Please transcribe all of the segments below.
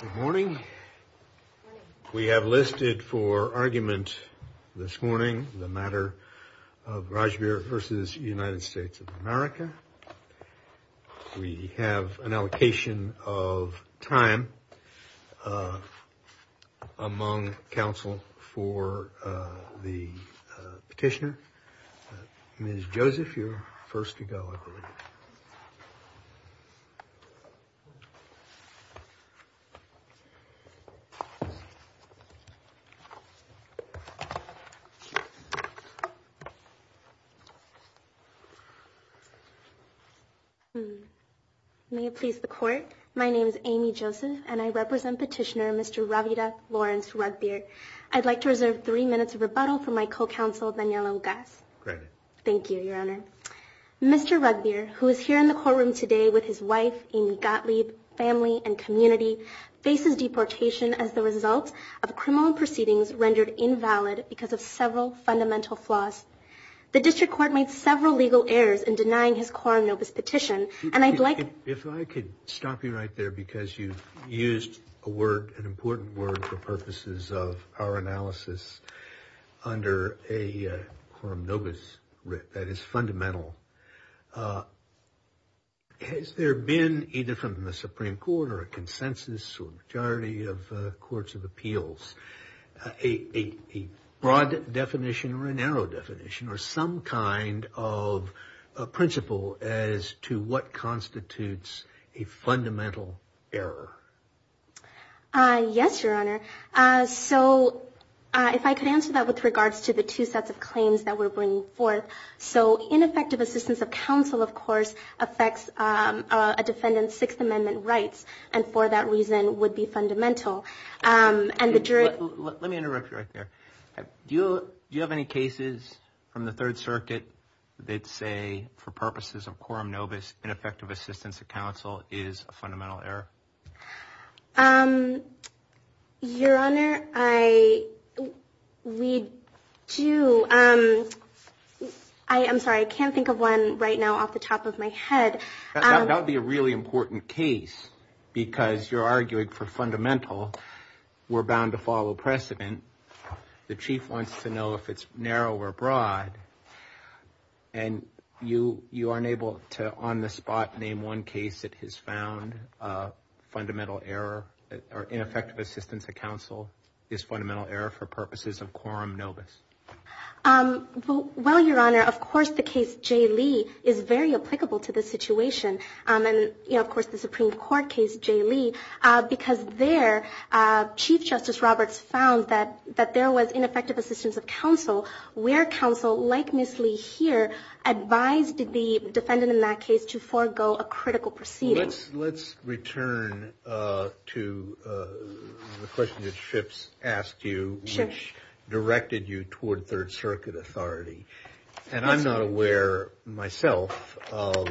Good morning. We have listed for argument this morning the matter of Rajbir v. United States of America. We have an allocation of time among counsel for the petitioner. Ms. Joseph, you're first to go, I believe. May it please the court, my name is Amy Joseph, and I represent petitioner Mr. Ravida Lawrence-Ragbir. I'd like to reserve three minutes of rebuttal for my co-counsel, Daniela Lugas. Thank you, Your Honor. Mr. Ragbir, who is here in the courtroom today with his wife, Amy Gottlieb, family, and community, faces deportation as the result of criminal proceedings rendered invalid because of several fundamental flaws. The district court made several legal errors in denying his quorum nobis petition, and I'd like to If I could stop you right there, because you used a word, an important word for purposes of our analysis, under a quorum nobis writ that is fundamental. Has there been, either from the Supreme Court or a consensus or majority of courts of appeals, a broad definition or a narrow definition or some kind of principle as to what constitutes a fundamental error? Yes, Your Honor. So if I could answer that with regards to the two sets of claims that we're bringing forth. So ineffective assistance of counsel, of course, affects a defendant's Sixth Amendment rights, and for that reason would be fundamental. Let me interrupt you right there. Do you have any cases from the Third Circuit that say, for purposes of quorum nobis, ineffective assistance of counsel is a fundamental error? Your Honor, we do. I'm sorry, I can't think of one right now off the top of my head. That would be a really important case, because you're arguing for fundamental. We're bound to follow precedent. The Chief wants to know if it's narrow or broad. And you aren't able to, on the spot, name one case that has found fundamental error, or ineffective assistance of counsel is fundamental error for purposes of quorum nobis. Well, Your Honor, of course the case J. Lee is very applicable to this situation, and of course the Supreme Court case J. Lee, because there Chief Justice Roberts found that there was ineffective assistance of counsel where counsel, like Ms. Lee here, advised the defendant in that case to forego a critical proceeding. Let's return to the question that Schipps asked you, which directed you toward Third Circuit authority. And I'm not aware myself of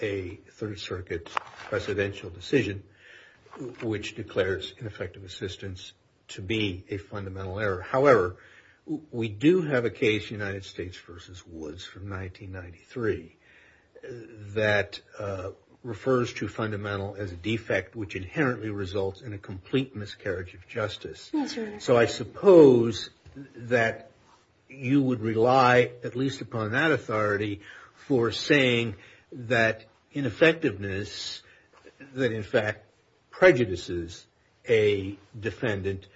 a Third Circuit presidential decision which declares ineffective assistance to be a fundamental error. However, we do have a case, United States v. Woods from 1993, that refers to fundamental as a defect which inherently results in a complete miscarriage of justice. Yes, Your Honor. So I suppose that you would rely, at least upon that authority, for saying that ineffectiveness that in fact prejudices a defendant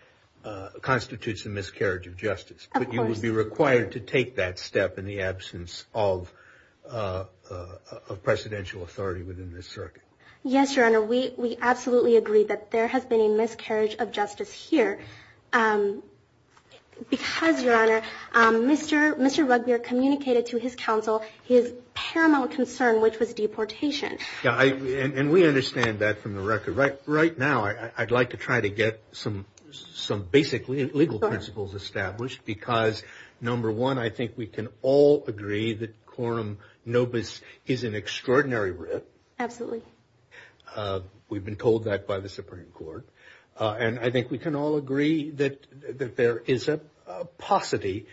constitutes a miscarriage of justice. Of course. But you would be required to take that step in the absence of presidential authority within this circuit. Yes, Your Honor. We absolutely agree that there has been a miscarriage of justice here, because, Your Honor, Mr. Rugbeer communicated to his counsel his paramount concern, which was deportation. And we understand that from the record. Right now, I'd like to try to get some basic legal principles established, because, number one, I think we can all agree that quorum nobis is an extraordinary writ. Absolutely. We've been told that by the Supreme Court. And I think we can all agree that there is a paucity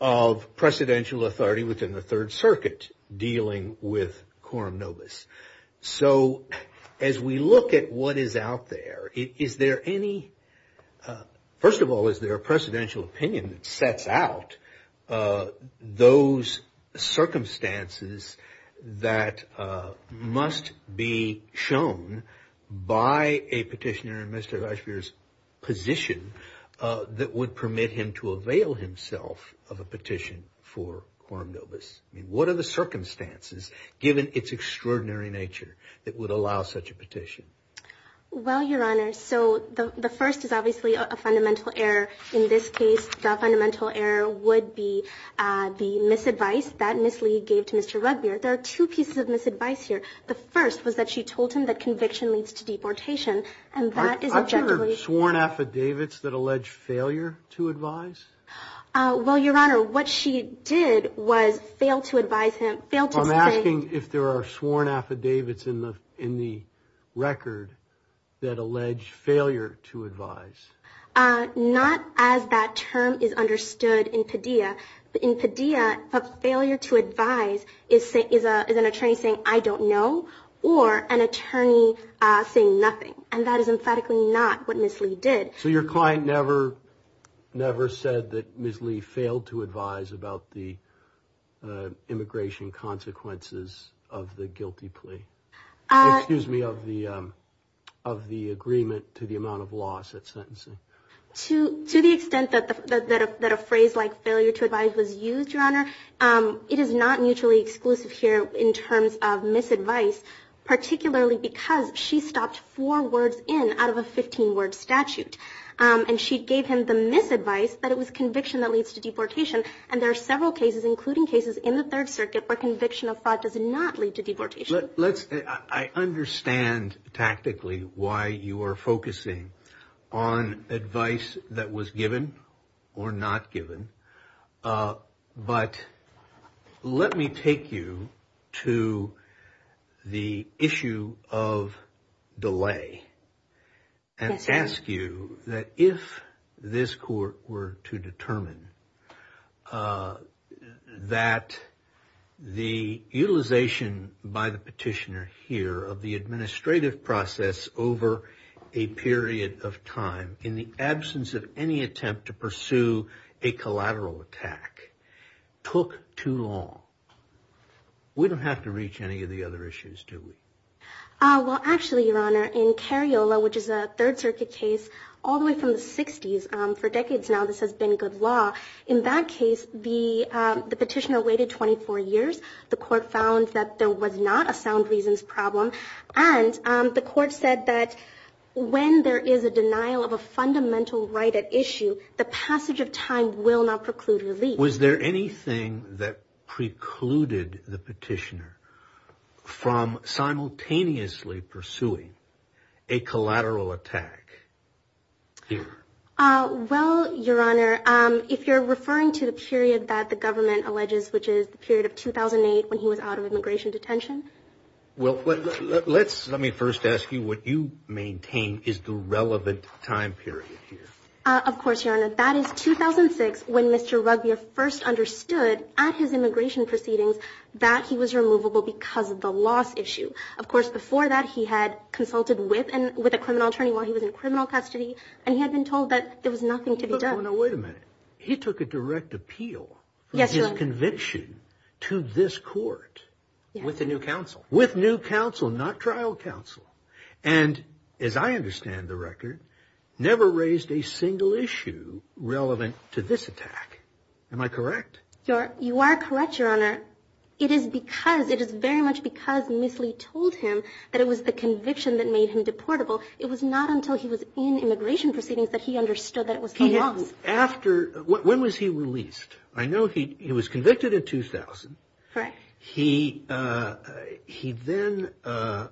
of presidential authority within the Third Circuit dealing with quorum nobis. So as we look at what is out there, is there any, first of all, opinion that sets out those circumstances that must be shown by a petitioner in Mr. Rugbeer's position that would permit him to avail himself of a petition for quorum nobis? What are the circumstances, given its extraordinary nature, that would allow such a petition? Well, Your Honor, so the first is obviously a fundamental error. In this case, the fundamental error would be the misadvice that Ms. Lee gave to Mr. Rugbeer. There are two pieces of misadvice here. The first was that she told him that conviction leads to deportation, and that is objectively Aren't there sworn affidavits that allege failure to advise? Well, Your Honor, what she did was fail to advise him, fail to say Are you asking if there are sworn affidavits in the record that allege failure to advise? Not as that term is understood in Padilla. In Padilla, a failure to advise is an attorney saying, I don't know, or an attorney saying nothing. And that is emphatically not what Ms. Lee did. So your client never said that Ms. Lee failed to advise about the immigration consequences of the guilty plea? Excuse me, of the agreement to the amount of loss at sentencing? To the extent that a phrase like failure to advise was used, Your Honor, it is not mutually exclusive here in terms of misadvice, particularly because she stopped four words in out of a 15-word statute. And she gave him the misadvice that it was conviction that leads to deportation. And there are several cases, including cases in the Third Circuit, where conviction of fraud does not lead to deportation. I understand tactically why you are focusing on advice that was given or not given. But let me take you to the issue of delay. And ask you that if this court were to determine that the utilization by the petitioner here of the administrative process over a period of time, in the absence of any attempt to pursue a collateral attack, took too long, we don't have to reach any of the other issues, do we? Well, actually, Your Honor, in Cariola, which is a Third Circuit case, all the way from the 60s, for decades now, this has been good law. In that case, the petitioner waited 24 years. The court found that there was not a sound reasons problem. And the court said that when there is a denial of a fundamental right at issue, the passage of time will not preclude relief. Was there anything that precluded the petitioner from simultaneously pursuing a collateral attack here? Well, Your Honor, if you're referring to the period that the government alleges, which is the period of 2008, when he was out of immigration detention. Well, let me first ask you what you maintain is the relevant time period here. Of course, Your Honor, that is 2006, when Mr. Rugbier first understood at his immigration proceedings that he was removable because of the loss issue. Of course, before that, he had consulted with a criminal attorney while he was in criminal custody, and he had been told that there was nothing to be done. Now, wait a minute. He took a direct appeal for his conviction to this court. With the new counsel. With new counsel, not trial counsel. And as I understand the record, never raised a single issue relevant to this attack. Am I correct? You are correct, Your Honor. It is because it is very much because Miss Lee told him that it was the conviction that made him deportable. It was not until he was in immigration proceedings that he understood that it was the loss. After when was he released? I know he was convicted in 2000. He then, as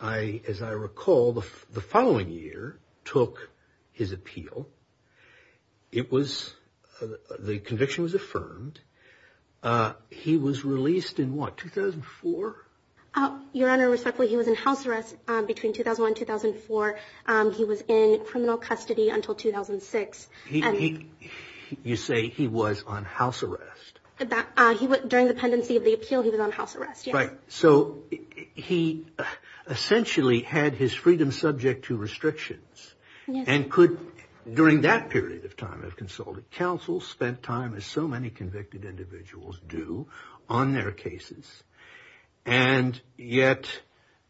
I recall, the following year, took his appeal. The conviction was affirmed. He was released in what, 2004? Your Honor, respectfully, he was in house arrest between 2001 and 2004. He was in criminal custody until 2006. You say he was on house arrest. During the pendency of the appeal, he was on house arrest. So, he essentially had his freedom subject to restrictions. And could, during that period of time, have consulted counsel. Spent time, as so many convicted individuals do, on their cases. And yet,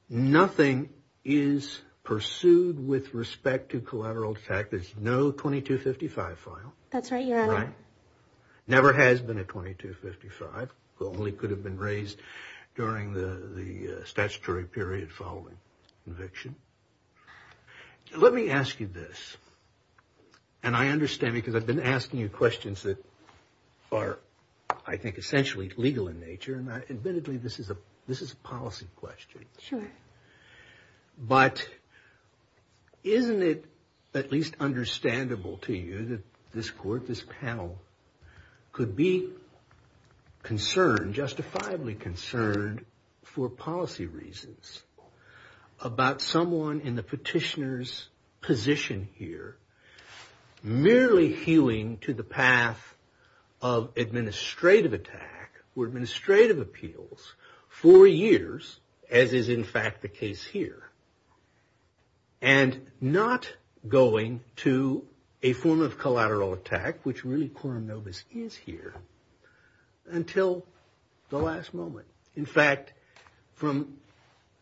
nothing is pursued with respect to collateral attack. There's no 2255 file. That's right, Your Honor. Never has been a 2255. It only could have been raised during the statutory period following conviction. Let me ask you this. And I understand because I've been asking you questions that are, I think, essentially legal in nature. And admittedly, this is a policy question. Sure. But, isn't it at least understandable to you that this court, this panel, could be concerned, justifiably concerned, for policy reasons, about someone in the petitioner's position here, merely hewing to the path of administrative attack, or administrative appeals, for years, as is, in fact, the case here. And not going to a form of collateral attack, which really Quorum Novus is here, until the last moment. In fact, from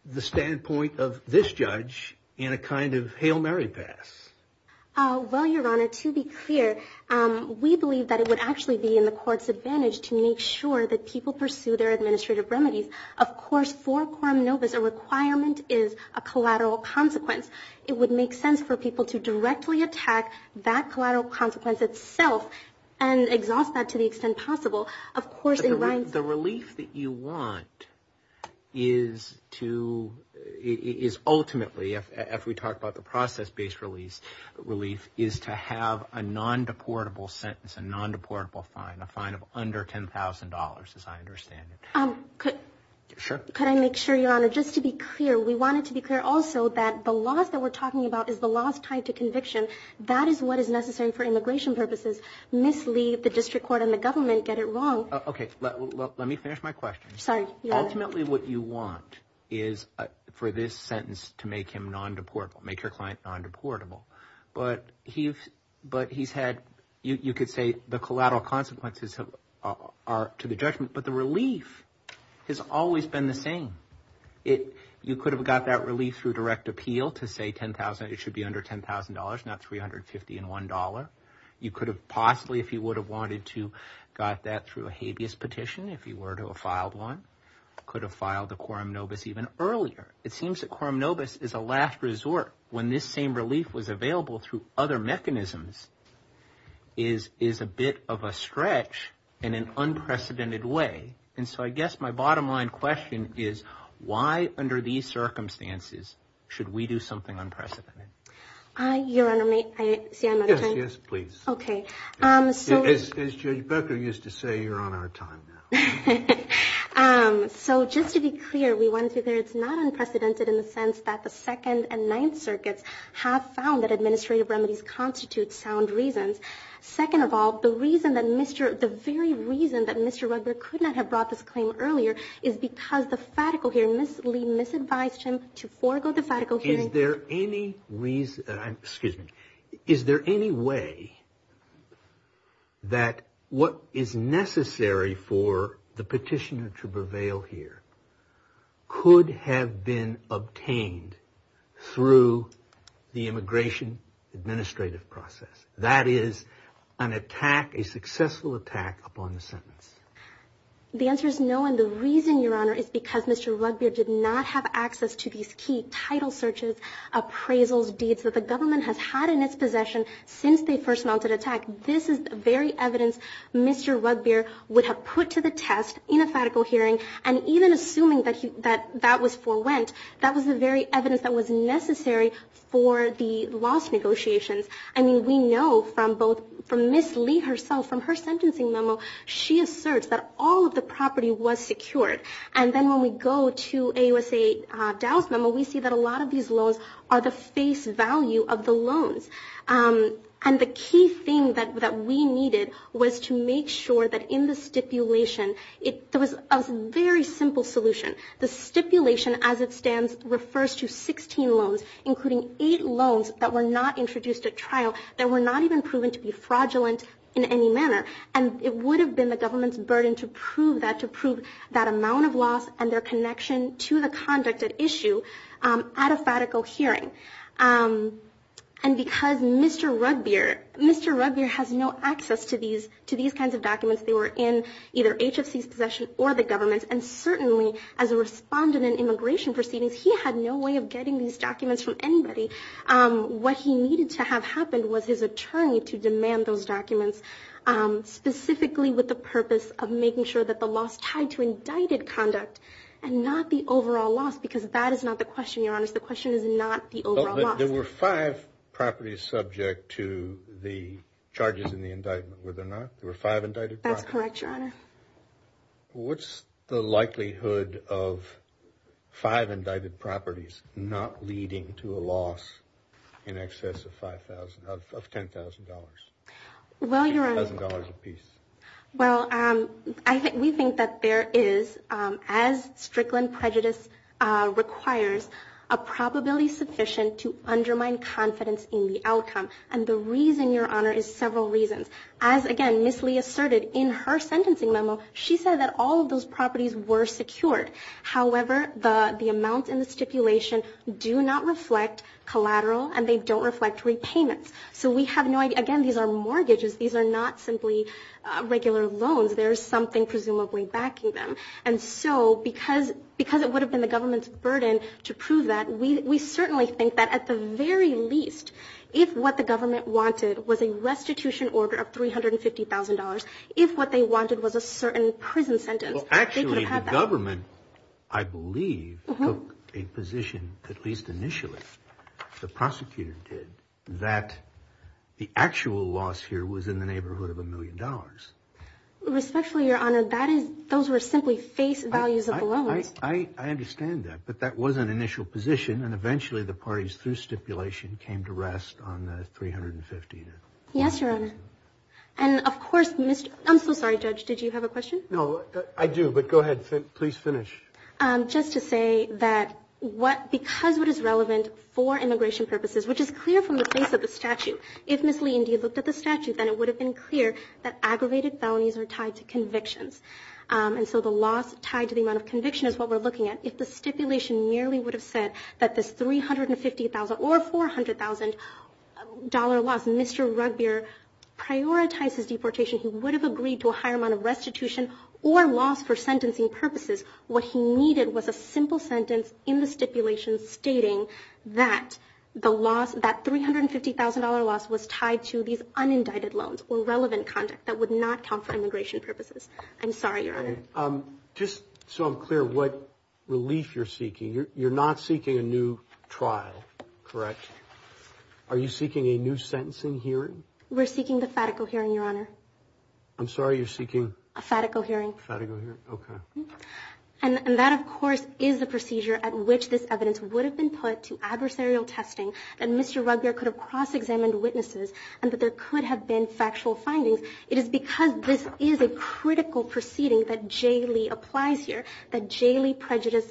the standpoint of this judge, in a kind of Hail Mary pass. Well, Your Honor, to be clear, we believe that it would actually be in the court's advantage to make sure that people pursue their administrative remedies. Of course, for Quorum Novus, a requirement is a collateral consequence. It would make sense for people to directly attack that collateral consequence itself, and exhaust that to the extent possible. Of course, it rhymes. The relief that you want is to, is ultimately, if we talk about the process-based relief, is to have a non-deportable sentence, a non-deportable fine, a fine of under $10,000, as I understand it. Could I make sure, Your Honor, just to be clear, we wanted to be clear also that the laws that we're talking about is the laws tied to conviction. That is what is necessary for immigration purposes. Mislead the district court and the government, get it wrong. Okay, let me finish my question. Sorry, Your Honor. Ultimately, what you want is for this sentence to make him non-deportable, make your client non-deportable. But he's had, you could say the collateral consequences are to the judgment, but the relief has always been the same. You could have got that relief through direct appeal to say $10,000. It should be under $10,000, not $350 and $1. You could have possibly, if you would have wanted to, got that through a habeas petition, if you were to have filed one, could have filed the quorum nobis even earlier. It seems that quorum nobis is a last resort when this same relief was available through other mechanisms, is a bit of a stretch in an unprecedented way. And so I guess my bottom-line question is, why under these circumstances should we do something unprecedented? Your Honor, may I say I'm out of time? Yes, yes, please. Okay. As Judge Becker used to say, you're on our time now. So just to be clear, we went through there. It's not unprecedented in the sense that the Second and Ninth Circuits have found that administrative remedies constitute sound reasons. Second of all, the very reason that Mr. Rugbear could not have brought this claim earlier is because the fatical hearing, Is there any reason, excuse me, is there any way that what is necessary for the petitioner to prevail here could have been obtained through the immigration administrative process? That is an attack, a successful attack upon the sentence. The answer is no. And the reason, Your Honor, is because Mr. Rugbear did not have access to these key title searches, appraisals, deeds that the government has had in its possession since they first mounted attack. This is the very evidence Mr. Rugbear would have put to the test in a fatical hearing. And even assuming that that was forewent, that was the very evidence that was necessary for the loss negotiations. I mean, we know from both Ms. Lee herself, from her sentencing memo, she asserts that all of the property was secured. And then when we go to AUSA Dow's memo, we see that a lot of these loans are the face value of the loans. And the key thing that we needed was to make sure that in the stipulation, there was a very simple solution. The stipulation as it stands refers to 16 loans, including eight loans that were not introduced at trial, that were not even proven to be fraudulent in any manner. And it would have been the government's burden to prove that, to prove that amount of loss and their connection to the conduct at issue at a fatical hearing. And because Mr. Rugbear has no access to these kinds of documents, they were in either HFC's possession or the government's, and certainly as a respondent in immigration proceedings, he had no way of getting these documents from anybody. What he needed to have happen was his attorney to demand those documents, specifically with the purpose of making sure that the loss tied to indicted conduct and not the overall loss, because that is not the question, Your Honors. The question is not the overall loss. There were five properties subject to the charges in the indictment, were there not? There were five indicted properties. That's correct, Your Honor. What's the likelihood of five indicted properties not leading to a loss in excess of $10,000? $10,000 apiece. Well, we think that there is, as Strickland prejudice requires, a probability sufficient to undermine confidence in the outcome. And the reason, Your Honor, is several reasons. As, again, Ms. Lee asserted in her sentencing memo, she said that all of those properties were secured. However, the amount in the stipulation do not reflect collateral and they don't reflect repayments. So we have no idea. Again, these are mortgages. These are not simply regular loans. There is something presumably backing them. And so because it would have been the government's burden to prove that, we certainly think that at the very least, if what the government wanted was a restitution order of $350,000, if what they wanted was a certain prison sentence, they could have had that. Actually, the government, I believe, took a position, at least initially, the prosecutor did, that the actual loss here was in the neighborhood of a million dollars. Respectfully, Your Honor, those were simply face values of the loaners. I understand that, but that was an initial position, and eventually the parties through stipulation came to rest on the $350,000. Yes, Your Honor. And, of course, Mr. – I'm so sorry, Judge, did you have a question? No, I do, but go ahead. Please finish. Just to say that because what is relevant for immigration purposes, which is clear from the face of the statute, if Ms. Lee indeed looked at the statute, then it would have been clear that aggravated felonies are tied to convictions. And so the loss tied to the amount of conviction is what we're looking at. If the stipulation merely would have said that this $350,000 or $400,000 loss, Mr. Rugbeer prioritized his deportation, he would have agreed to a higher amount of restitution or loss for sentencing purposes. What he needed was a simple sentence in the stipulation stating that the loss, that $350,000 loss was tied to these unindicted loans or relevant conduct that would not count for immigration purposes. I'm sorry, Your Honor. Just so I'm clear, what relief you're seeking, you're not seeking a new trial, correct? Are you seeking a new sentencing hearing? We're seeking the FATICO hearing, Your Honor. I'm sorry, you're seeking? A FATICO hearing. A FATICO hearing, okay. And that, of course, is a procedure at which this evidence would have been put to adversarial testing that Mr. Rugbeer could have cross-examined witnesses and that there could have been factual findings. It is because this is a critical proceeding that J. Lee applies here, that J. Lee prejudice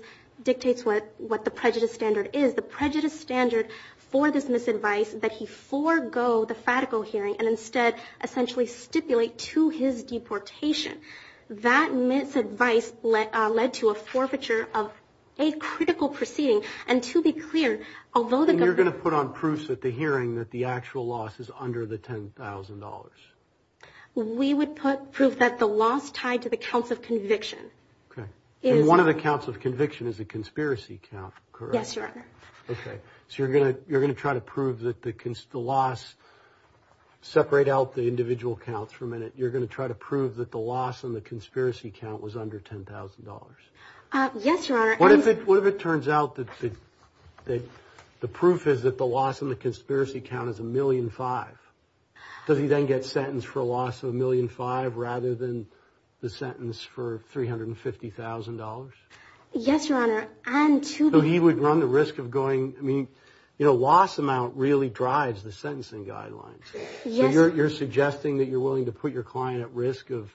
dictates what the prejudice standard is, the prejudice standard for this misadvice that he forego the FATICO hearing and instead essentially stipulate to his deportation. That misadvice led to a forfeiture of a critical proceeding. And to be clear, although the government – We would put proof that the loss tied to the counts of conviction. Okay. And one of the counts of conviction is a conspiracy count, correct? Yes, Your Honor. Okay. So you're going to try to prove that the loss – separate out the individual counts for a minute. You're going to try to prove that the loss in the conspiracy count was under $10,000. Yes, Your Honor. What if it turns out that the proof is that the loss in the conspiracy count is $1.5 million? Does he then get sentenced for a loss of $1.5 million rather than the sentence for $350,000? Yes, Your Honor. And to be – So he would run the risk of going – I mean, you know, loss amount really drives the sentencing guidelines. Yes. So you're suggesting that you're willing to put your client at risk of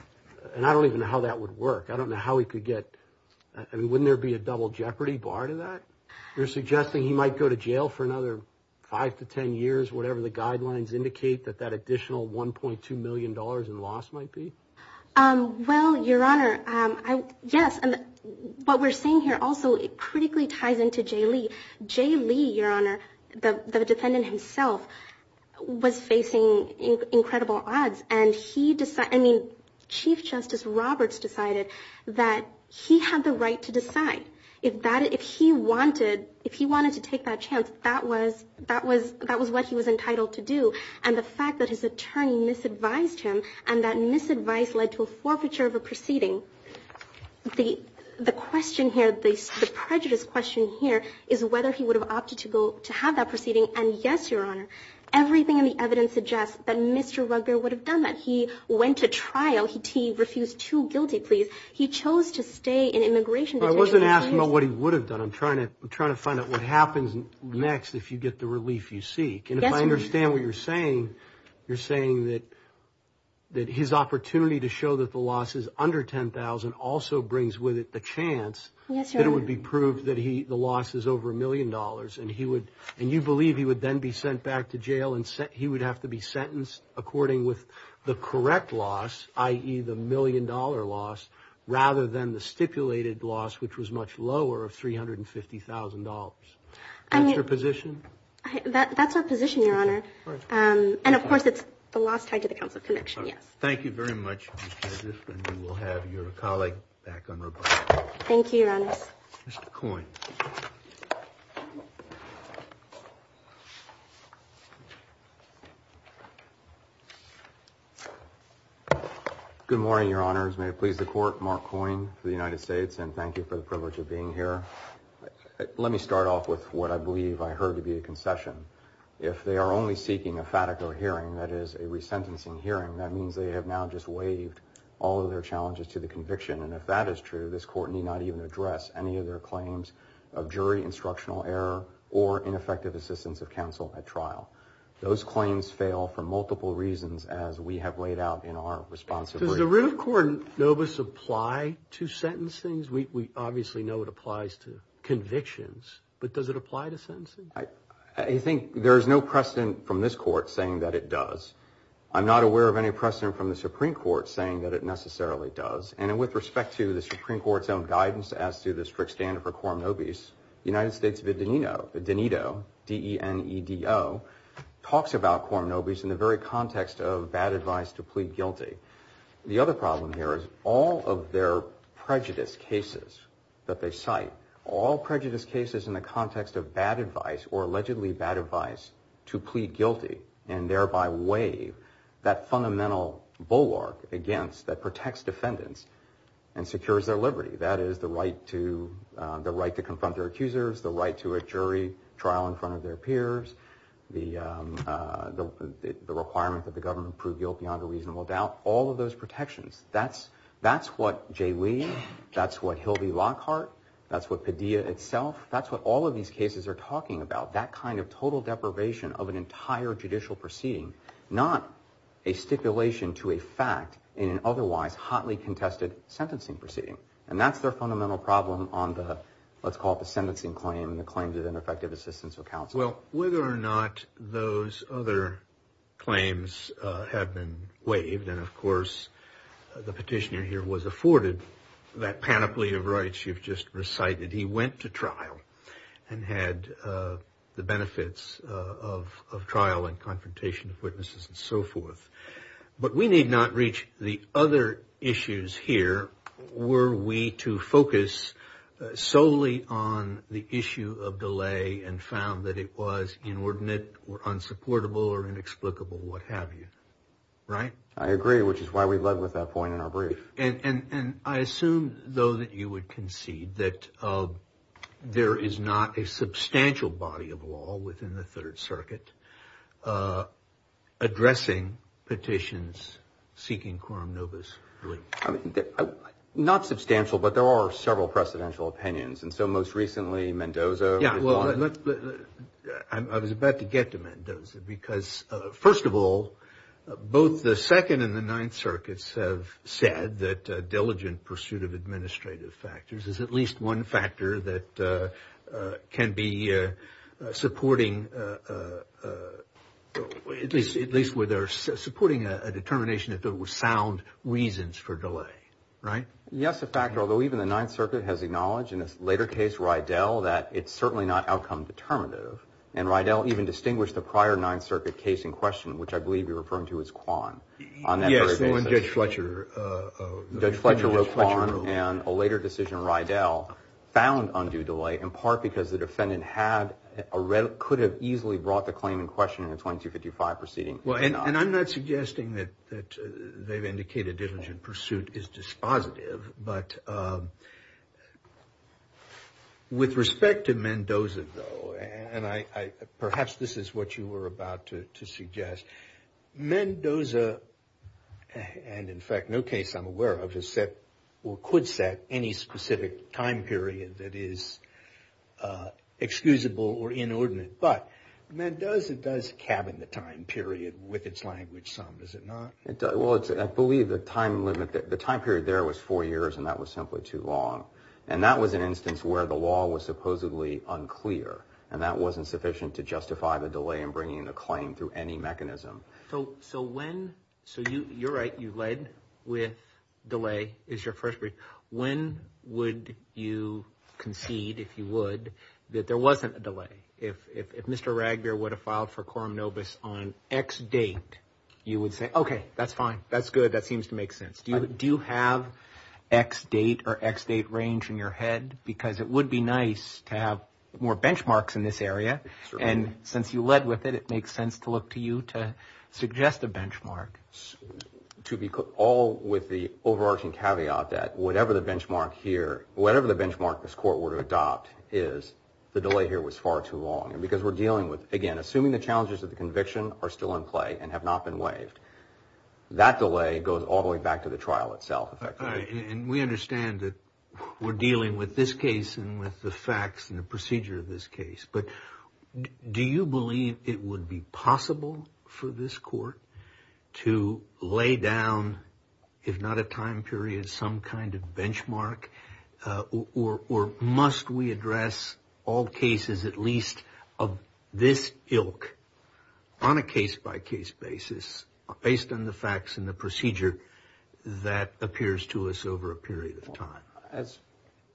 – and I don't even know how that would work. I don't know how he could get – I mean, wouldn't there be a double jeopardy bar to that? You're suggesting he might go to jail for another 5 to 10 years, whatever the guidelines indicate that that additional $1.2 million in loss might be? Well, Your Honor, yes. And what we're saying here also critically ties into Jay Lee. Jay Lee, Your Honor, the defendant himself, was facing incredible odds. And he – I mean, Chief Justice Roberts decided that he had the right to decide. If he wanted to take that chance, that was what he was entitled to do. And the fact that his attorney misadvised him and that misadvice led to a forfeiture of a proceeding, the question here, the prejudice question here, is whether he would have opted to have that proceeding. And, yes, Your Honor, everything in the evidence suggests that Mr. Rugbear would have done that. He went to trial. He refused two guilty pleas. He chose to stay in immigration detention. Well, I wasn't asking about what he would have done. I'm trying to find out what happens next if you get the relief you seek. And if I understand what you're saying, you're saying that his opportunity to show that the loss is under $10,000 also brings with it the chance that it would be proved that the loss is over $1 million. And you believe he would then be sent back to jail and he would have to be sentenced according with the correct loss, i.e., the $1 million loss, rather than the stipulated loss, which was much lower of $350,000. That's your position? That's our position, Your Honor. And, of course, it's the loss tied to the Council of Convention, yes. Thank you very much. We will have your colleague back on rebuttal. Thank you, Your Honor. Mr. Coyne. Good morning, Your Honors. May it please the Court. Mark Coyne for the United States, and thank you for the privilege of being here. Let me start off with what I believe I heard to be a concession. If they are only seeking a fatigo hearing, that is, a resentencing hearing, that means they have now just waived all of their challenges to the conviction. And if that is true, this Court need not even address any of their claims of jury instructional error or ineffective assistance of counsel at trial. Those claims fail for multiple reasons, as we have laid out in our responsive brief. Does the root of quorum nobis apply to sentencing? We obviously know it applies to convictions, but does it apply to sentencing? I think there is no precedent from this Court saying that it does. I'm not aware of any precedent from the Supreme Court saying that it necessarily does. And with respect to the Supreme Court's own guidance as to the strict standard for quorum nobis, the United States Videnedo, D-E-N-E-D-O, talks about quorum nobis in the very context of bad advice to plead guilty. The other problem here is all of their prejudice cases that they cite, all prejudice cases in the context of bad advice or allegedly bad advice to plead guilty and thereby waive that fundamental bulwark against that protects defendants and secures their liberty, that is, the right to confront their accusers, the right to a jury trial in front of their peers, the requirement that the government prove guilt beyond a reasonable doubt, all of those protections. That's what Jay Lee, that's what Hilby Lockhart, that's what Padilla itself, that's what all of these cases are talking about, that kind of total deprivation of an entire judicial proceeding, not a stipulation to a fact in an otherwise hotly contested sentencing proceeding. And that's their fundamental problem on the, let's call it the sentencing claim, the claims of ineffective assistance of counsel. Well, whether or not those other claims have been waived, and of course the petitioner here was afforded that panoply of rights you've just recited. He went to trial and had the benefits of trial and confrontation of witnesses and so forth. But we need not reach the other issues here were we to focus solely on the issue of delay and found that it was inordinate or unsupportable or inexplicable, what have you, right? I agree, which is why we led with that point in our brief. And I assume, though, that you would concede that there is not a substantial body of law within the Third Circuit addressing petitions seeking quorum nobis. Not substantial, but there are several precedential opinions. And so most recently Mendoza. Yeah, well, I was about to get to Mendoza because, first of all, both the Second and the Ninth Circuits have said that diligent pursuit of administrative factors is at least one factor that can be supporting a determination that there were sound reasons for delay, right? Yes, a factor, although even the Ninth Circuit has acknowledged in its later case, Rydell, that it's certainly not outcome determinative. And Rydell even distinguished the prior Ninth Circuit case in question, which I believe you're referring to as Kwan, on that very basis. Yes, Judge Fletcher. Judge Fletcher wrote Kwan, and a later decision, Rydell, found undue delay, in part because the defendant could have easily brought the claim in question in a 2255 proceeding. And I'm not suggesting that they've indicated diligent pursuit is dispositive, but with respect to Mendoza, though, and perhaps this is what you were about to suggest, Mendoza, and in fact no case I'm aware of, has set, or could set, any specific time period that is excusable or inordinate. But Mendoza does cabin the time period with its language some, does it not? Well, I believe the time period there was four years, and that was simply too long. And that was an instance where the law was supposedly unclear, and that wasn't sufficient to justify the delay in bringing the claim through any mechanism. So when, so you're right, you led with delay is your first brief. When would you concede, if you would, that there wasn't a delay? If Mr. Ragbeer would have filed for quorum nobis on X date, you would say, okay, that's fine. That's good. That seems to make sense. Do you have X date or X date range in your head? Because it would be nice to have more benchmarks in this area, and since you led with it, it makes sense to look to you to suggest a benchmark. All with the overarching caveat that whatever the benchmark here, whatever the benchmark this court were to adopt is, the delay here was far too long. And because we're dealing with, again, assuming the challenges of the conviction are still in play and have not been waived, that delay goes all the way back to the trial itself, effectively. And we understand that we're dealing with this case and with the facts and the procedure of this case. But do you believe it would be possible for this court to lay down, if not a time period, some kind of benchmark? Or must we address all cases, at least of this ilk, on a case-by-case basis, based on the facts and the procedure that appears to us over a period of time?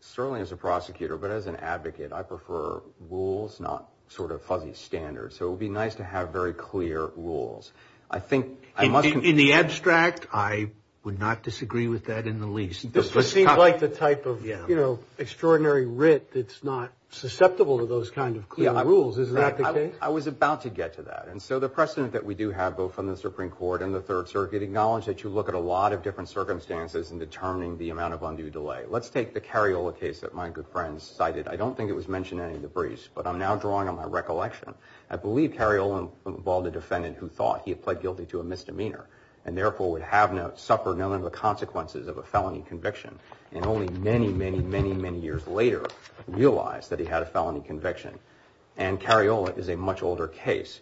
Certainly as a prosecutor, but as an advocate, I prefer rules, not sort of fuzzy standards. So it would be nice to have very clear rules. In the abstract, I would not disagree with that in the least. This seems like the type of extraordinary writ that's not susceptible to those kind of clear rules. Is that the case? I was about to get to that. And so the precedent that we do have, both from the Supreme Court and the Third Circuit, acknowledge that you look at a lot of different circumstances in determining the amount of undue delay. Let's take the Cariola case that my good friend cited. I don't think it was mentioned in any of the briefs, but I'm now drawing on my recollection. I believe Cariola involved a defendant who thought he had pled guilty to a misdemeanor and therefore would have suffered none of the consequences of a felony conviction and only many, many, many, many years later realized that he had a felony conviction. And Cariola is a much older case.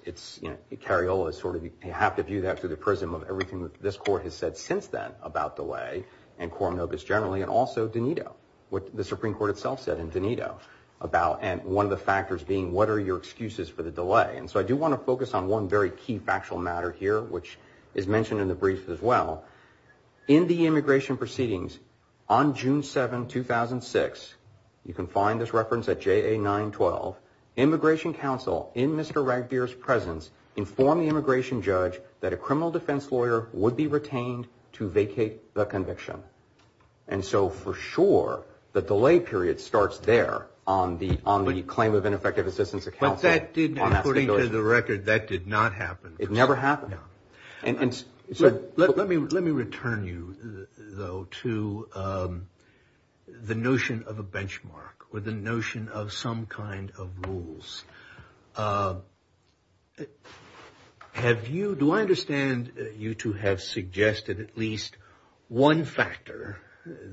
Cariola is sort of, you have to view that through the prism of everything that this Court has said since then about delay and Coram Novus generally and also Donito, what the Supreme Court itself said in Donito, about one of the factors being what are your excuses for the delay. And so I do want to focus on one very key factual matter here, which is mentioned in the brief as well. In the immigration proceedings on June 7, 2006, you can find this reference at JA 912, immigration counsel in Mr. Ragbir's presence informed the immigration judge that a criminal defense lawyer would be retained to vacate the conviction. And so for sure the delay period starts there on the claim of ineffective assistance of counsel. But that did not, according to the record, that did not happen. It never happened. Let me return you, though, to the notion of a benchmark or the notion of some kind of rules. Have you, do I understand you to have suggested at least one factor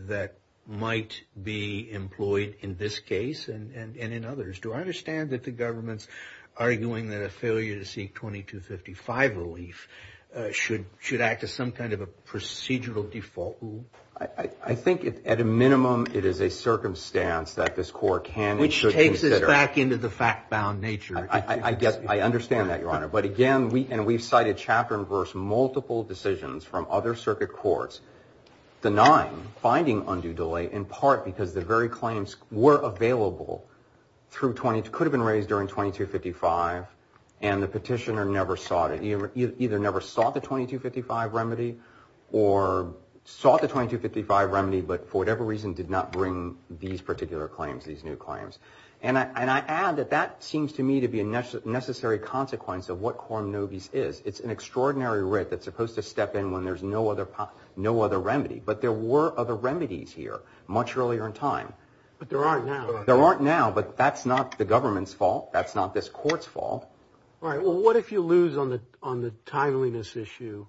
that might be employed in this case and in others? Do I understand that the government's arguing that a failure to seek 2255 relief should act as some kind of a procedural default rule? I think at a minimum it is a circumstance that this court can and should consider. Which takes us back into the fact-bound nature. I understand that, Your Honor. But again, and we've cited chapter and verse multiple decisions from other circuit courts denying finding undue delay in part because the very claims were available through 22, could have been raised during 2255, and the petitioner never sought it. Or sought the 2255 remedy, but for whatever reason did not bring these particular claims, these new claims. And I add that that seems to me to be a necessary consequence of what quorum nobis is. It's an extraordinary writ that's supposed to step in when there's no other remedy. But there were other remedies here much earlier in time. But there aren't now. There aren't now, but that's not the government's fault. That's not this court's fault. All right. Well, what if you lose on the timeliness issue?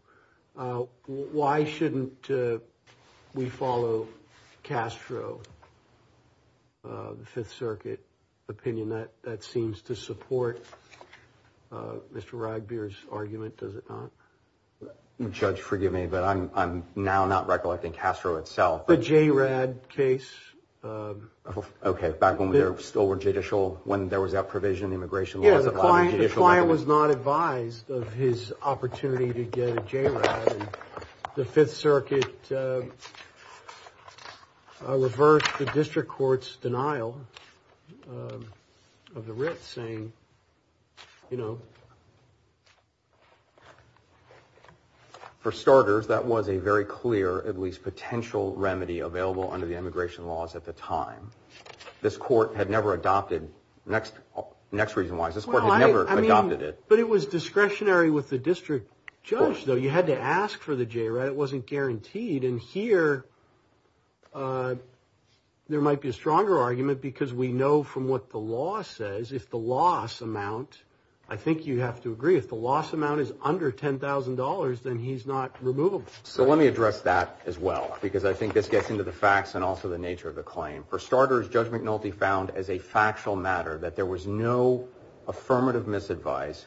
Why shouldn't we follow Castro, the Fifth Circuit opinion? That seems to support Mr. Ragbir's argument, does it not? Judge, forgive me, but I'm now not recollecting Castro itself. The JRAD case? Okay, back when there were still judicial, when there was that provision, Yeah, the client was not advised of his opportunity to get a JRAD. The Fifth Circuit reversed the district court's denial of the writ, saying, you know. For starters, that was a very clear, at least potential, remedy available under the immigration laws at the time. This court had never adopted, next reason why, this court had never adopted it. But it was discretionary with the district judge, though. You had to ask for the JRAD. It wasn't guaranteed. And here there might be a stronger argument because we know from what the law says, if the loss amount, I think you have to agree, if the loss amount is under $10,000, then he's not removable. So let me address that as well, because I think this gets into the facts and also the nature of the claim. For starters, Judge McNulty found as a factual matter that there was no affirmative misadvice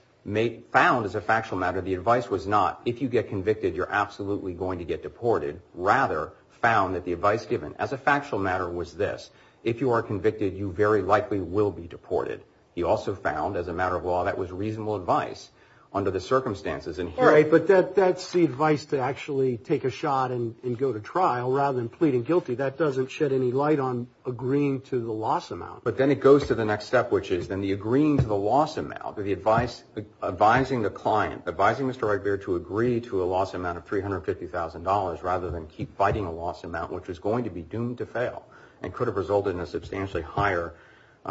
found as a factual matter. The advice was not, if you get convicted, you're absolutely going to get deported. Rather, found that the advice given as a factual matter was this. If you are convicted, you very likely will be deported. He also found, as a matter of law, that was reasonable advice under the circumstances. Right, but that's the advice to actually take a shot and go to trial rather than pleading guilty. That doesn't shed any light on agreeing to the loss amount. But then it goes to the next step, which is then the agreeing to the loss amount, the advice, advising the client, advising Mr. Redbeard to agree to a loss amount of $350,000 rather than keep fighting a loss amount, which is going to be doomed to fail and could have resulted in a substantially higher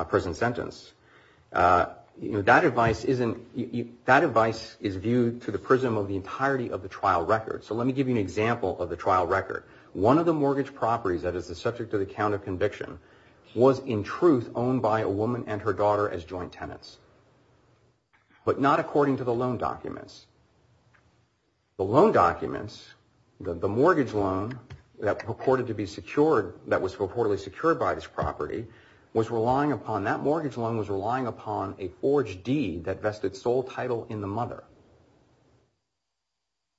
prison sentence. That advice is viewed to the prism of the entirety of the trial record. So let me give you an example of the trial record. One of the mortgage properties that is the subject of the count of conviction was, in truth, owned by a woman and her daughter as joint tenants, but not according to the loan documents. The loan documents, the mortgage loan that purported to be secured, that was purportedly secured by this property, was relying upon, that mortgage loan was relying upon a forged deed that vested sole title in the mother.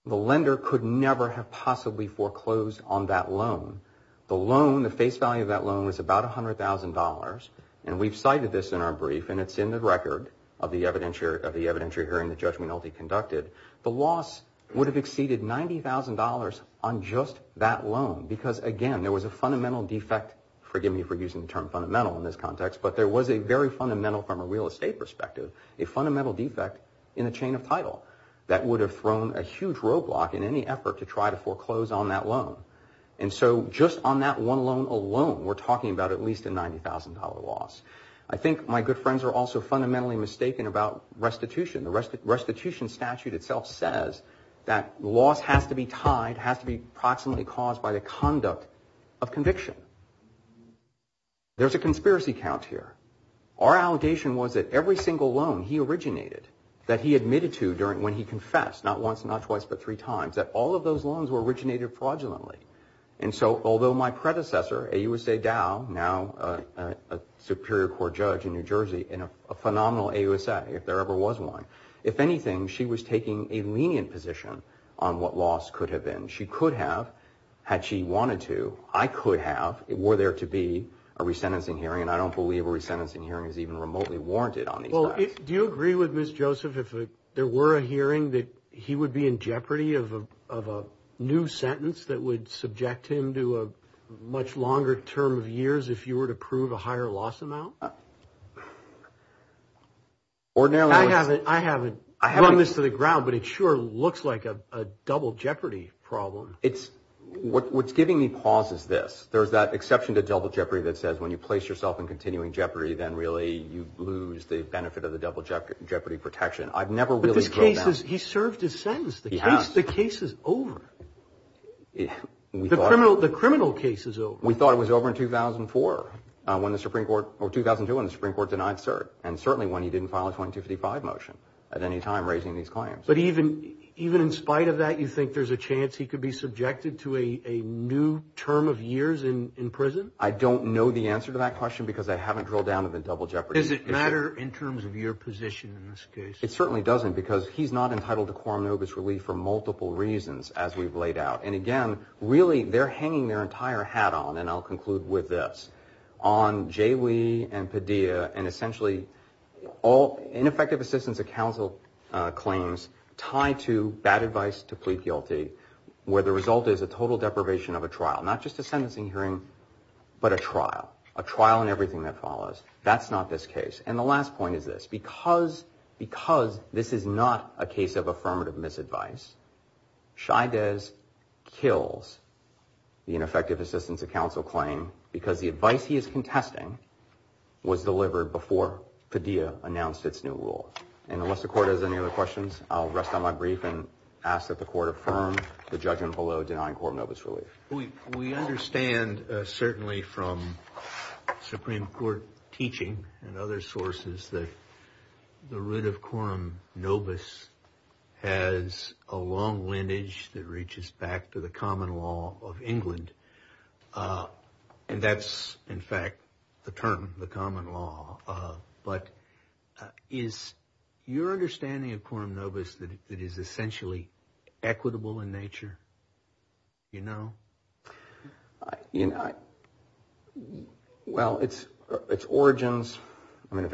The lender could never have possibly foreclosed on that loan. The loan, the face value of that loan was about $100,000, and we've cited this in our brief, and it's in the record of the evidentiary hearing that Judge Minolti conducted. The loss would have exceeded $90,000 on just that loan because, again, there was a fundamental defect, forgive me for using the term fundamental in this context, but there was a very fundamental, from a real estate perspective, a fundamental defect in the chain of title that would have thrown a huge roadblock in any effort to try to foreclose on that loan. And so just on that one loan alone, we're talking about at least a $90,000 loss. I think my good friends are also fundamentally mistaken about restitution. The restitution statute itself says that loss has to be tied, has to be proximately caused by the conduct of conviction. There's a conspiracy count here. Our allegation was that every single loan he originated, that he admitted to when he confessed, not once, not twice, but three times, that all of those loans were originated fraudulently. And so although my predecessor, AUSA Dow, now a Superior Court judge in New Jersey, and a phenomenal AUSA, if there ever was one, if anything, she was taking a lenient position on what loss could have been. She could have, had she wanted to, I could have, were there to be a resentencing hearing, and I don't believe a resentencing hearing is even remotely warranted on these facts. Well, do you agree with Ms. Joseph if there were a hearing that he would be in jeopardy of a new sentence that would subject him to a much longer term of years if you were to prove a higher loss amount? I haven't run this to the ground, but it sure looks like a double jeopardy problem. What's giving me pause is this. There's that exception to double jeopardy that says when you place yourself in continuing jeopardy, then really you lose the benefit of the double jeopardy protection. I've never really drawn that. But this case is, he served his sentence. He has. The case is over. The criminal case is over. We thought it was over in 2004 when the Supreme Court, or 2002 when the Supreme Court denied cert, and certainly when he didn't file a 2255 motion at any time raising these claims. But even in spite of that, you think there's a chance he could be subjected to a new term of years in prison? I don't know the answer to that question because I haven't drilled down to the double jeopardy issue. Does it matter in terms of your position in this case? It certainly doesn't because he's not entitled to coram nobis relief for multiple reasons as we've laid out. And again, really they're hanging their entire hat on, and I'll conclude with this, on J. Lee and Padilla and essentially ineffective assistance of counsel claims tied to bad advice to plead guilty where the result is a total deprivation of a trial. Not just a sentencing hearing, but a trial. A trial in everything that follows. That's not this case. And the last point is this. Because this is not a case of affirmative misadvice, Chaidez kills the ineffective assistance of counsel claim because the advice he is contesting was delivered before Padilla announced its new rule. And unless the court has any other questions, I'll rest on my brief and ask that the court affirm the judgment below denying coram nobis relief. We understand, certainly from Supreme Court teaching and other sources, that the root of coram nobis has a long lineage that reaches back to the common law of England. And that's, in fact, the term, the common law. But is your understanding of coram nobis that it is essentially equitable in nature? Do you know? Well, its origins, I mean,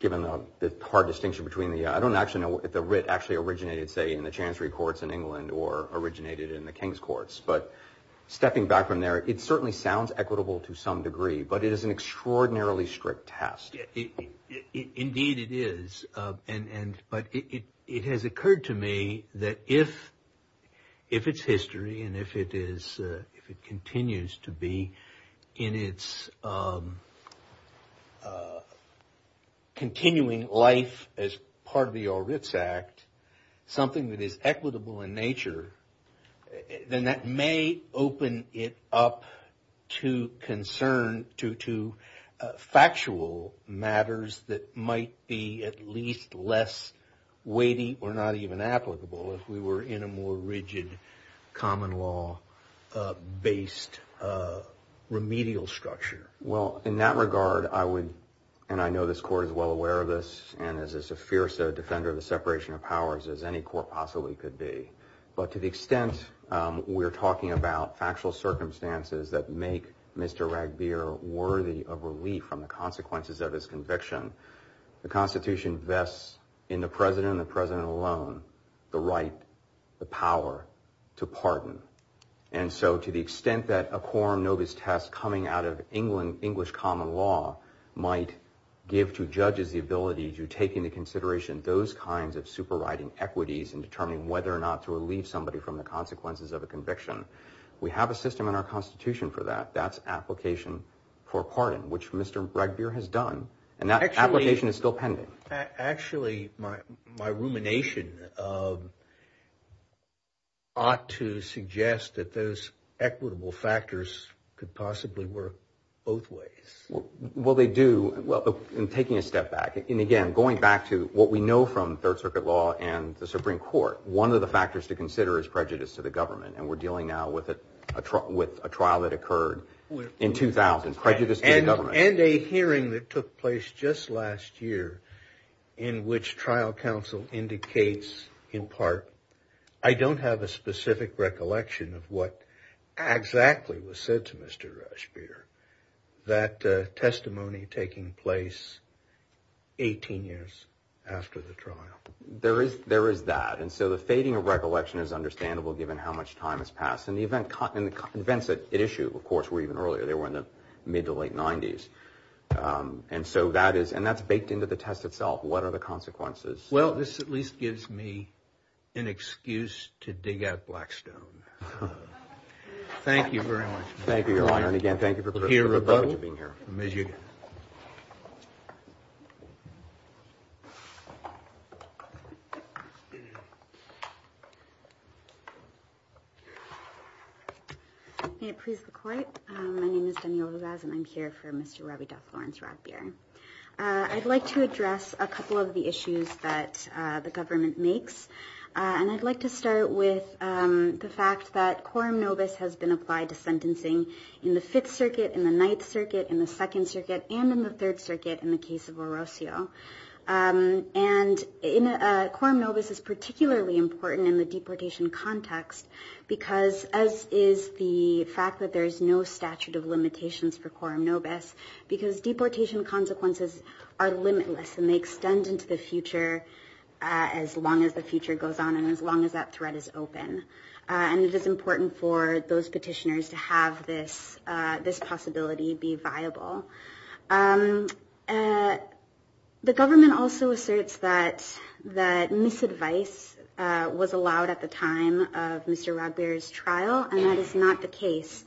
given the hard distinction between the, I don't actually know if the writ actually originated, say, in the Chancery Courts in England or originated in the King's Courts. But stepping back from there, it certainly sounds equitable to some degree. But it is an extraordinarily strict test. Indeed it is. But it has occurred to me that if it's history and if it continues to be in its continuing life as part of the Orr-Ritz Act, something that is equitable in nature, then that may open it up to concern to factual matters that might be at least less weighty or not even applicable if we were in a more rigid common law-based remedial structure. Well, in that regard, I would, and I know this Court is well aware of this, and is as fierce a defender of the separation of powers as any court possibly could be. But to the extent we're talking about factual circumstances that make Mr. Ragbir worthy of relief from the consequences of his conviction, the Constitution vests in the President and the President alone the right, the power, to pardon. And so to the extent that a quorum nobis test coming out of English common law might give to judges the ability to take into consideration those kinds of superriding equities in determining whether or not to relieve somebody from the consequences of a conviction, we have a system in our Constitution for that. That's application for pardon, which Mr. Ragbir has done. And that application is still pending. Actually, my rumination ought to suggest that those equitable factors could possibly work both ways. Well, they do. Well, in taking a step back, and again, going back to what we know from Third Circuit law and the Supreme Court, one of the factors to consider is prejudice to the government, and we're dealing now with a trial that occurred in 2000, prejudice to the government. And a hearing that took place just last year in which trial counsel indicates, in part, I don't have a specific recollection of what exactly was said to Mr. Ragbir, that testimony taking place 18 years after the trial. There is that. And so the fading of recollection is understandable given how much time has passed. And the events at issue, of course, were even earlier. They were in the mid to late 90s. And so that's baked into the test itself. What are the consequences? Well, this at least gives me an excuse to dig out Blackstone. Thank you very much. Thank you, Your Honor. And again, thank you for being here. May it please the Court. My name is Danielle Rivas, and I'm here for Mr. Rabideau-Florence Ragbir. I'd like to address a couple of the issues that the government makes. And I'd like to start with the fact that quorum nobis has been applied to sentencing in the Fifth Circuit, in the Ninth Circuit, in the Second Circuit, and in the Third Circuit in the case of Orocio. And quorum nobis is particularly important in the deportation context because, as is the fact that there is no statute of limitations for quorum nobis, because deportation consequences are limitless, and they extend into the future as long as the future goes on and as long as that threat is open. And it is important for those petitioners to have this possibility be viable. The government also asserts that misadvice was allowed at the time of Mr. Ragbir's trial, and that is not the case.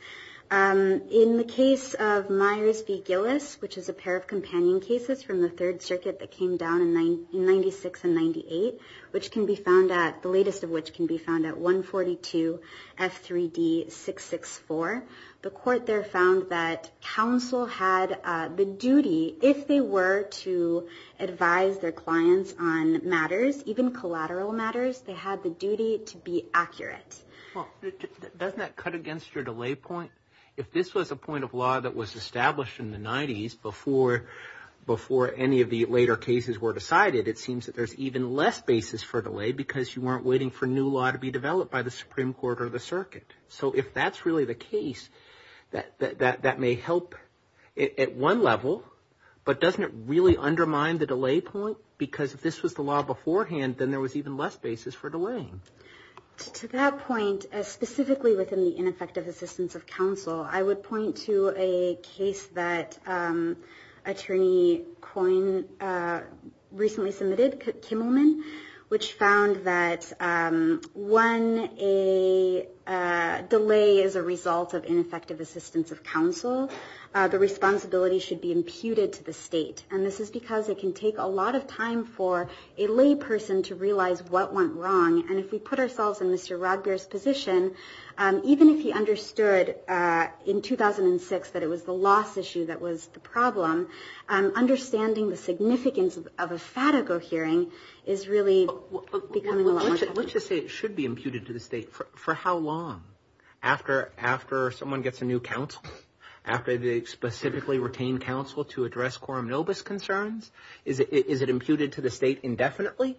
In the case of Myers v. Gillis, which is a pair of companion cases from the Third Circuit that came down in 96 and 98, which can be found at, the latest of which can be found at 142 F3D664, the court there found that counsel had the duty, if they were to advise their clients on matters, even collateral matters, they had the duty to be accurate. Doesn't that cut against your delay point? If this was a point of law that was established in the 90s, before any of the later cases were decided, it seems that there's even less basis for delay because you weren't waiting for new law to be developed by the Supreme Court or the circuit. So if that's really the case, that may help at one level, but doesn't it really undermine the delay point? Because if this was the law beforehand, then there was even less basis for delaying. To that point, specifically within the ineffective assistance of counsel, I would point to a case that attorney Coyne recently submitted, Kimmelman, which found that when a delay is a result of ineffective assistance of counsel, the responsibility should be imputed to the state. And this is because it can take a lot of time for a lay person to realize what went wrong, and if we put ourselves in Mr. Rodbeer's position, even if he understood in 2006 that it was the loss issue that was the problem, understanding the significance of a FADAGO hearing is really becoming a lot more difficult. Let's just say it should be imputed to the state. For how long? After someone gets a new counsel? After they specifically retain counsel to address quorum nobis concerns? Is it imputed to the state indefinitely?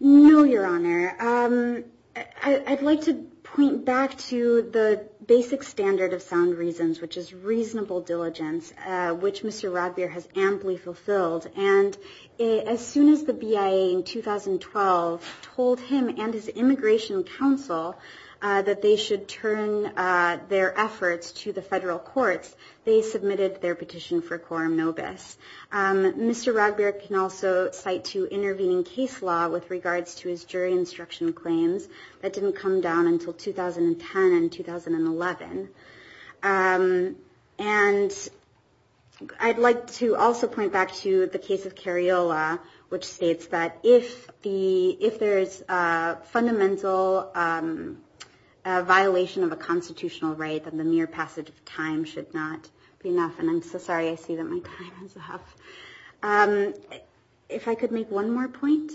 No, Your Honor. I'd like to point back to the basic standard of sound reasons, which is reasonable diligence, which Mr. Rodbeer has amply fulfilled. And as soon as the BIA in 2012 told him and his immigration counsel that they should turn their efforts to the federal courts, they submitted their petition for quorum nobis. Mr. Rodbeer can also cite to intervening case law with regards to his jury instruction claims. That didn't come down until 2010 and 2011. And I'd like to also point back to the case of Cariola, which states that if there is a fundamental violation of a constitutional right, then the mere passage of time should not be enough. And I'm so sorry I say that my time is up. If I could make one more point?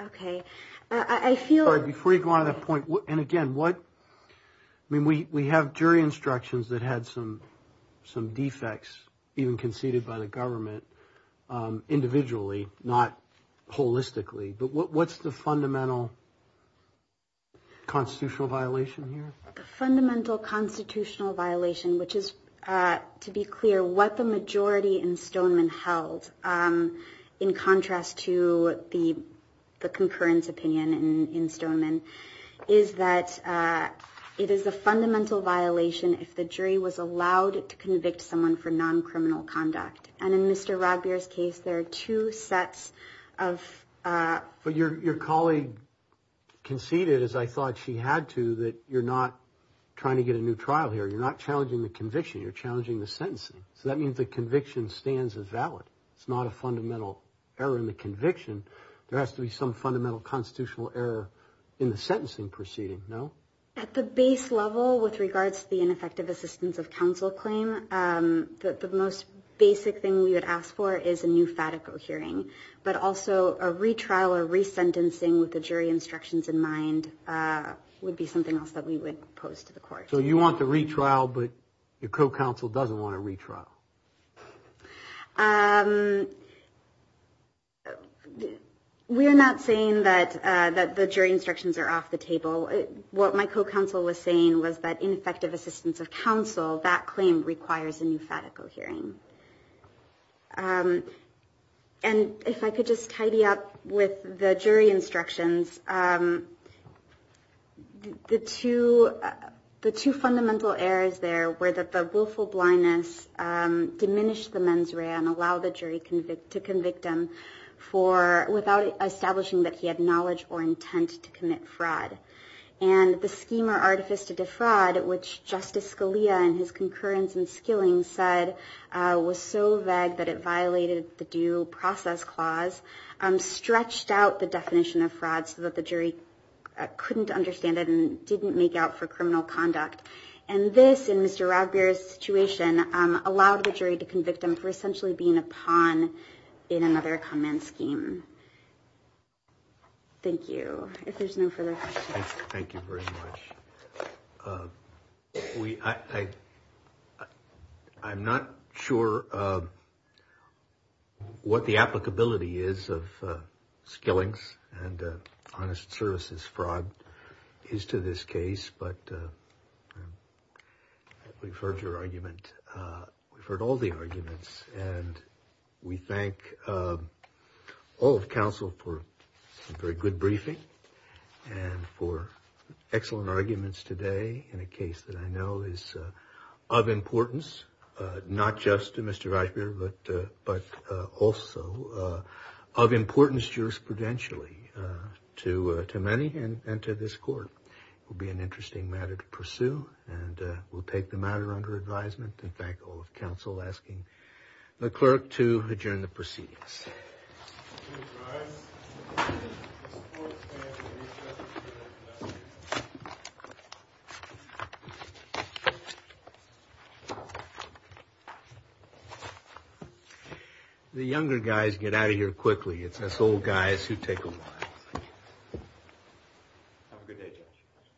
Okay. I feel – Before you go on to that point, and again, what – I mean, we have jury instructions that had some defects even conceded by the government, individually, not holistically. But what's the fundamental constitutional violation here? The fundamental constitutional violation, which is, to be clear, what the majority in Stoneman held in contrast to the concurrence opinion in Stoneman, is that it is a fundamental violation if the jury was allowed to convict someone for non-criminal conduct. And in Mr. Rodbeer's case, there are two sets of – But your colleague conceded, as I thought she had to, that you're not trying to get a new trial here. You're not challenging the conviction. You're challenging the sentencing. So that means the conviction stands as valid. It's not a fundamental error in the conviction. There has to be some fundamental constitutional error in the sentencing proceeding, no? At the base level, with regards to the ineffective assistance of counsel claim, the most basic thing we would ask for is a new FATICO hearing, but also a retrial or resentencing with the jury instructions in mind would be something else that we would pose to the court. So you want the retrial, but your co-counsel doesn't want a retrial. We are not saying that the jury instructions are off the table. What my co-counsel was saying was that ineffective assistance of counsel, that claim requires a new FATICO hearing. And if I could just tidy up with the jury instructions, the two fundamental errors there were that the willful blindness diminished the mens rea and allowed the jury to convict him without establishing that he had knowledge or intent to commit fraud. And the scheme or artifice to defraud, which Justice Scalia in his concurrence and skilling said was so vague that it violated the due process clause, stretched out the definition of fraud so that the jury couldn't understand it and didn't make out for criminal conduct. And this, in Mr. Radbeer's situation, allowed the jury to convict him for essentially being a pawn in another common scheme. Thank you. If there's no further questions. Thank you very much. I'm not sure what the applicability is of skillings and honest services fraud is to this case, but we've heard your argument. We've heard all the arguments, and we thank all of counsel for a very good briefing and for excellent arguments today in a case that I know is of importance, not just to Mr. Radbeer, but also of importance jurisprudentially to many and to this court. It will be an interesting matter to pursue, and we'll take the matter under advisement and thank all of counsel asking the clerk to adjourn the proceedings. The younger guys get out of here quickly. It's us old guys who take a while. Have a good day, Judge.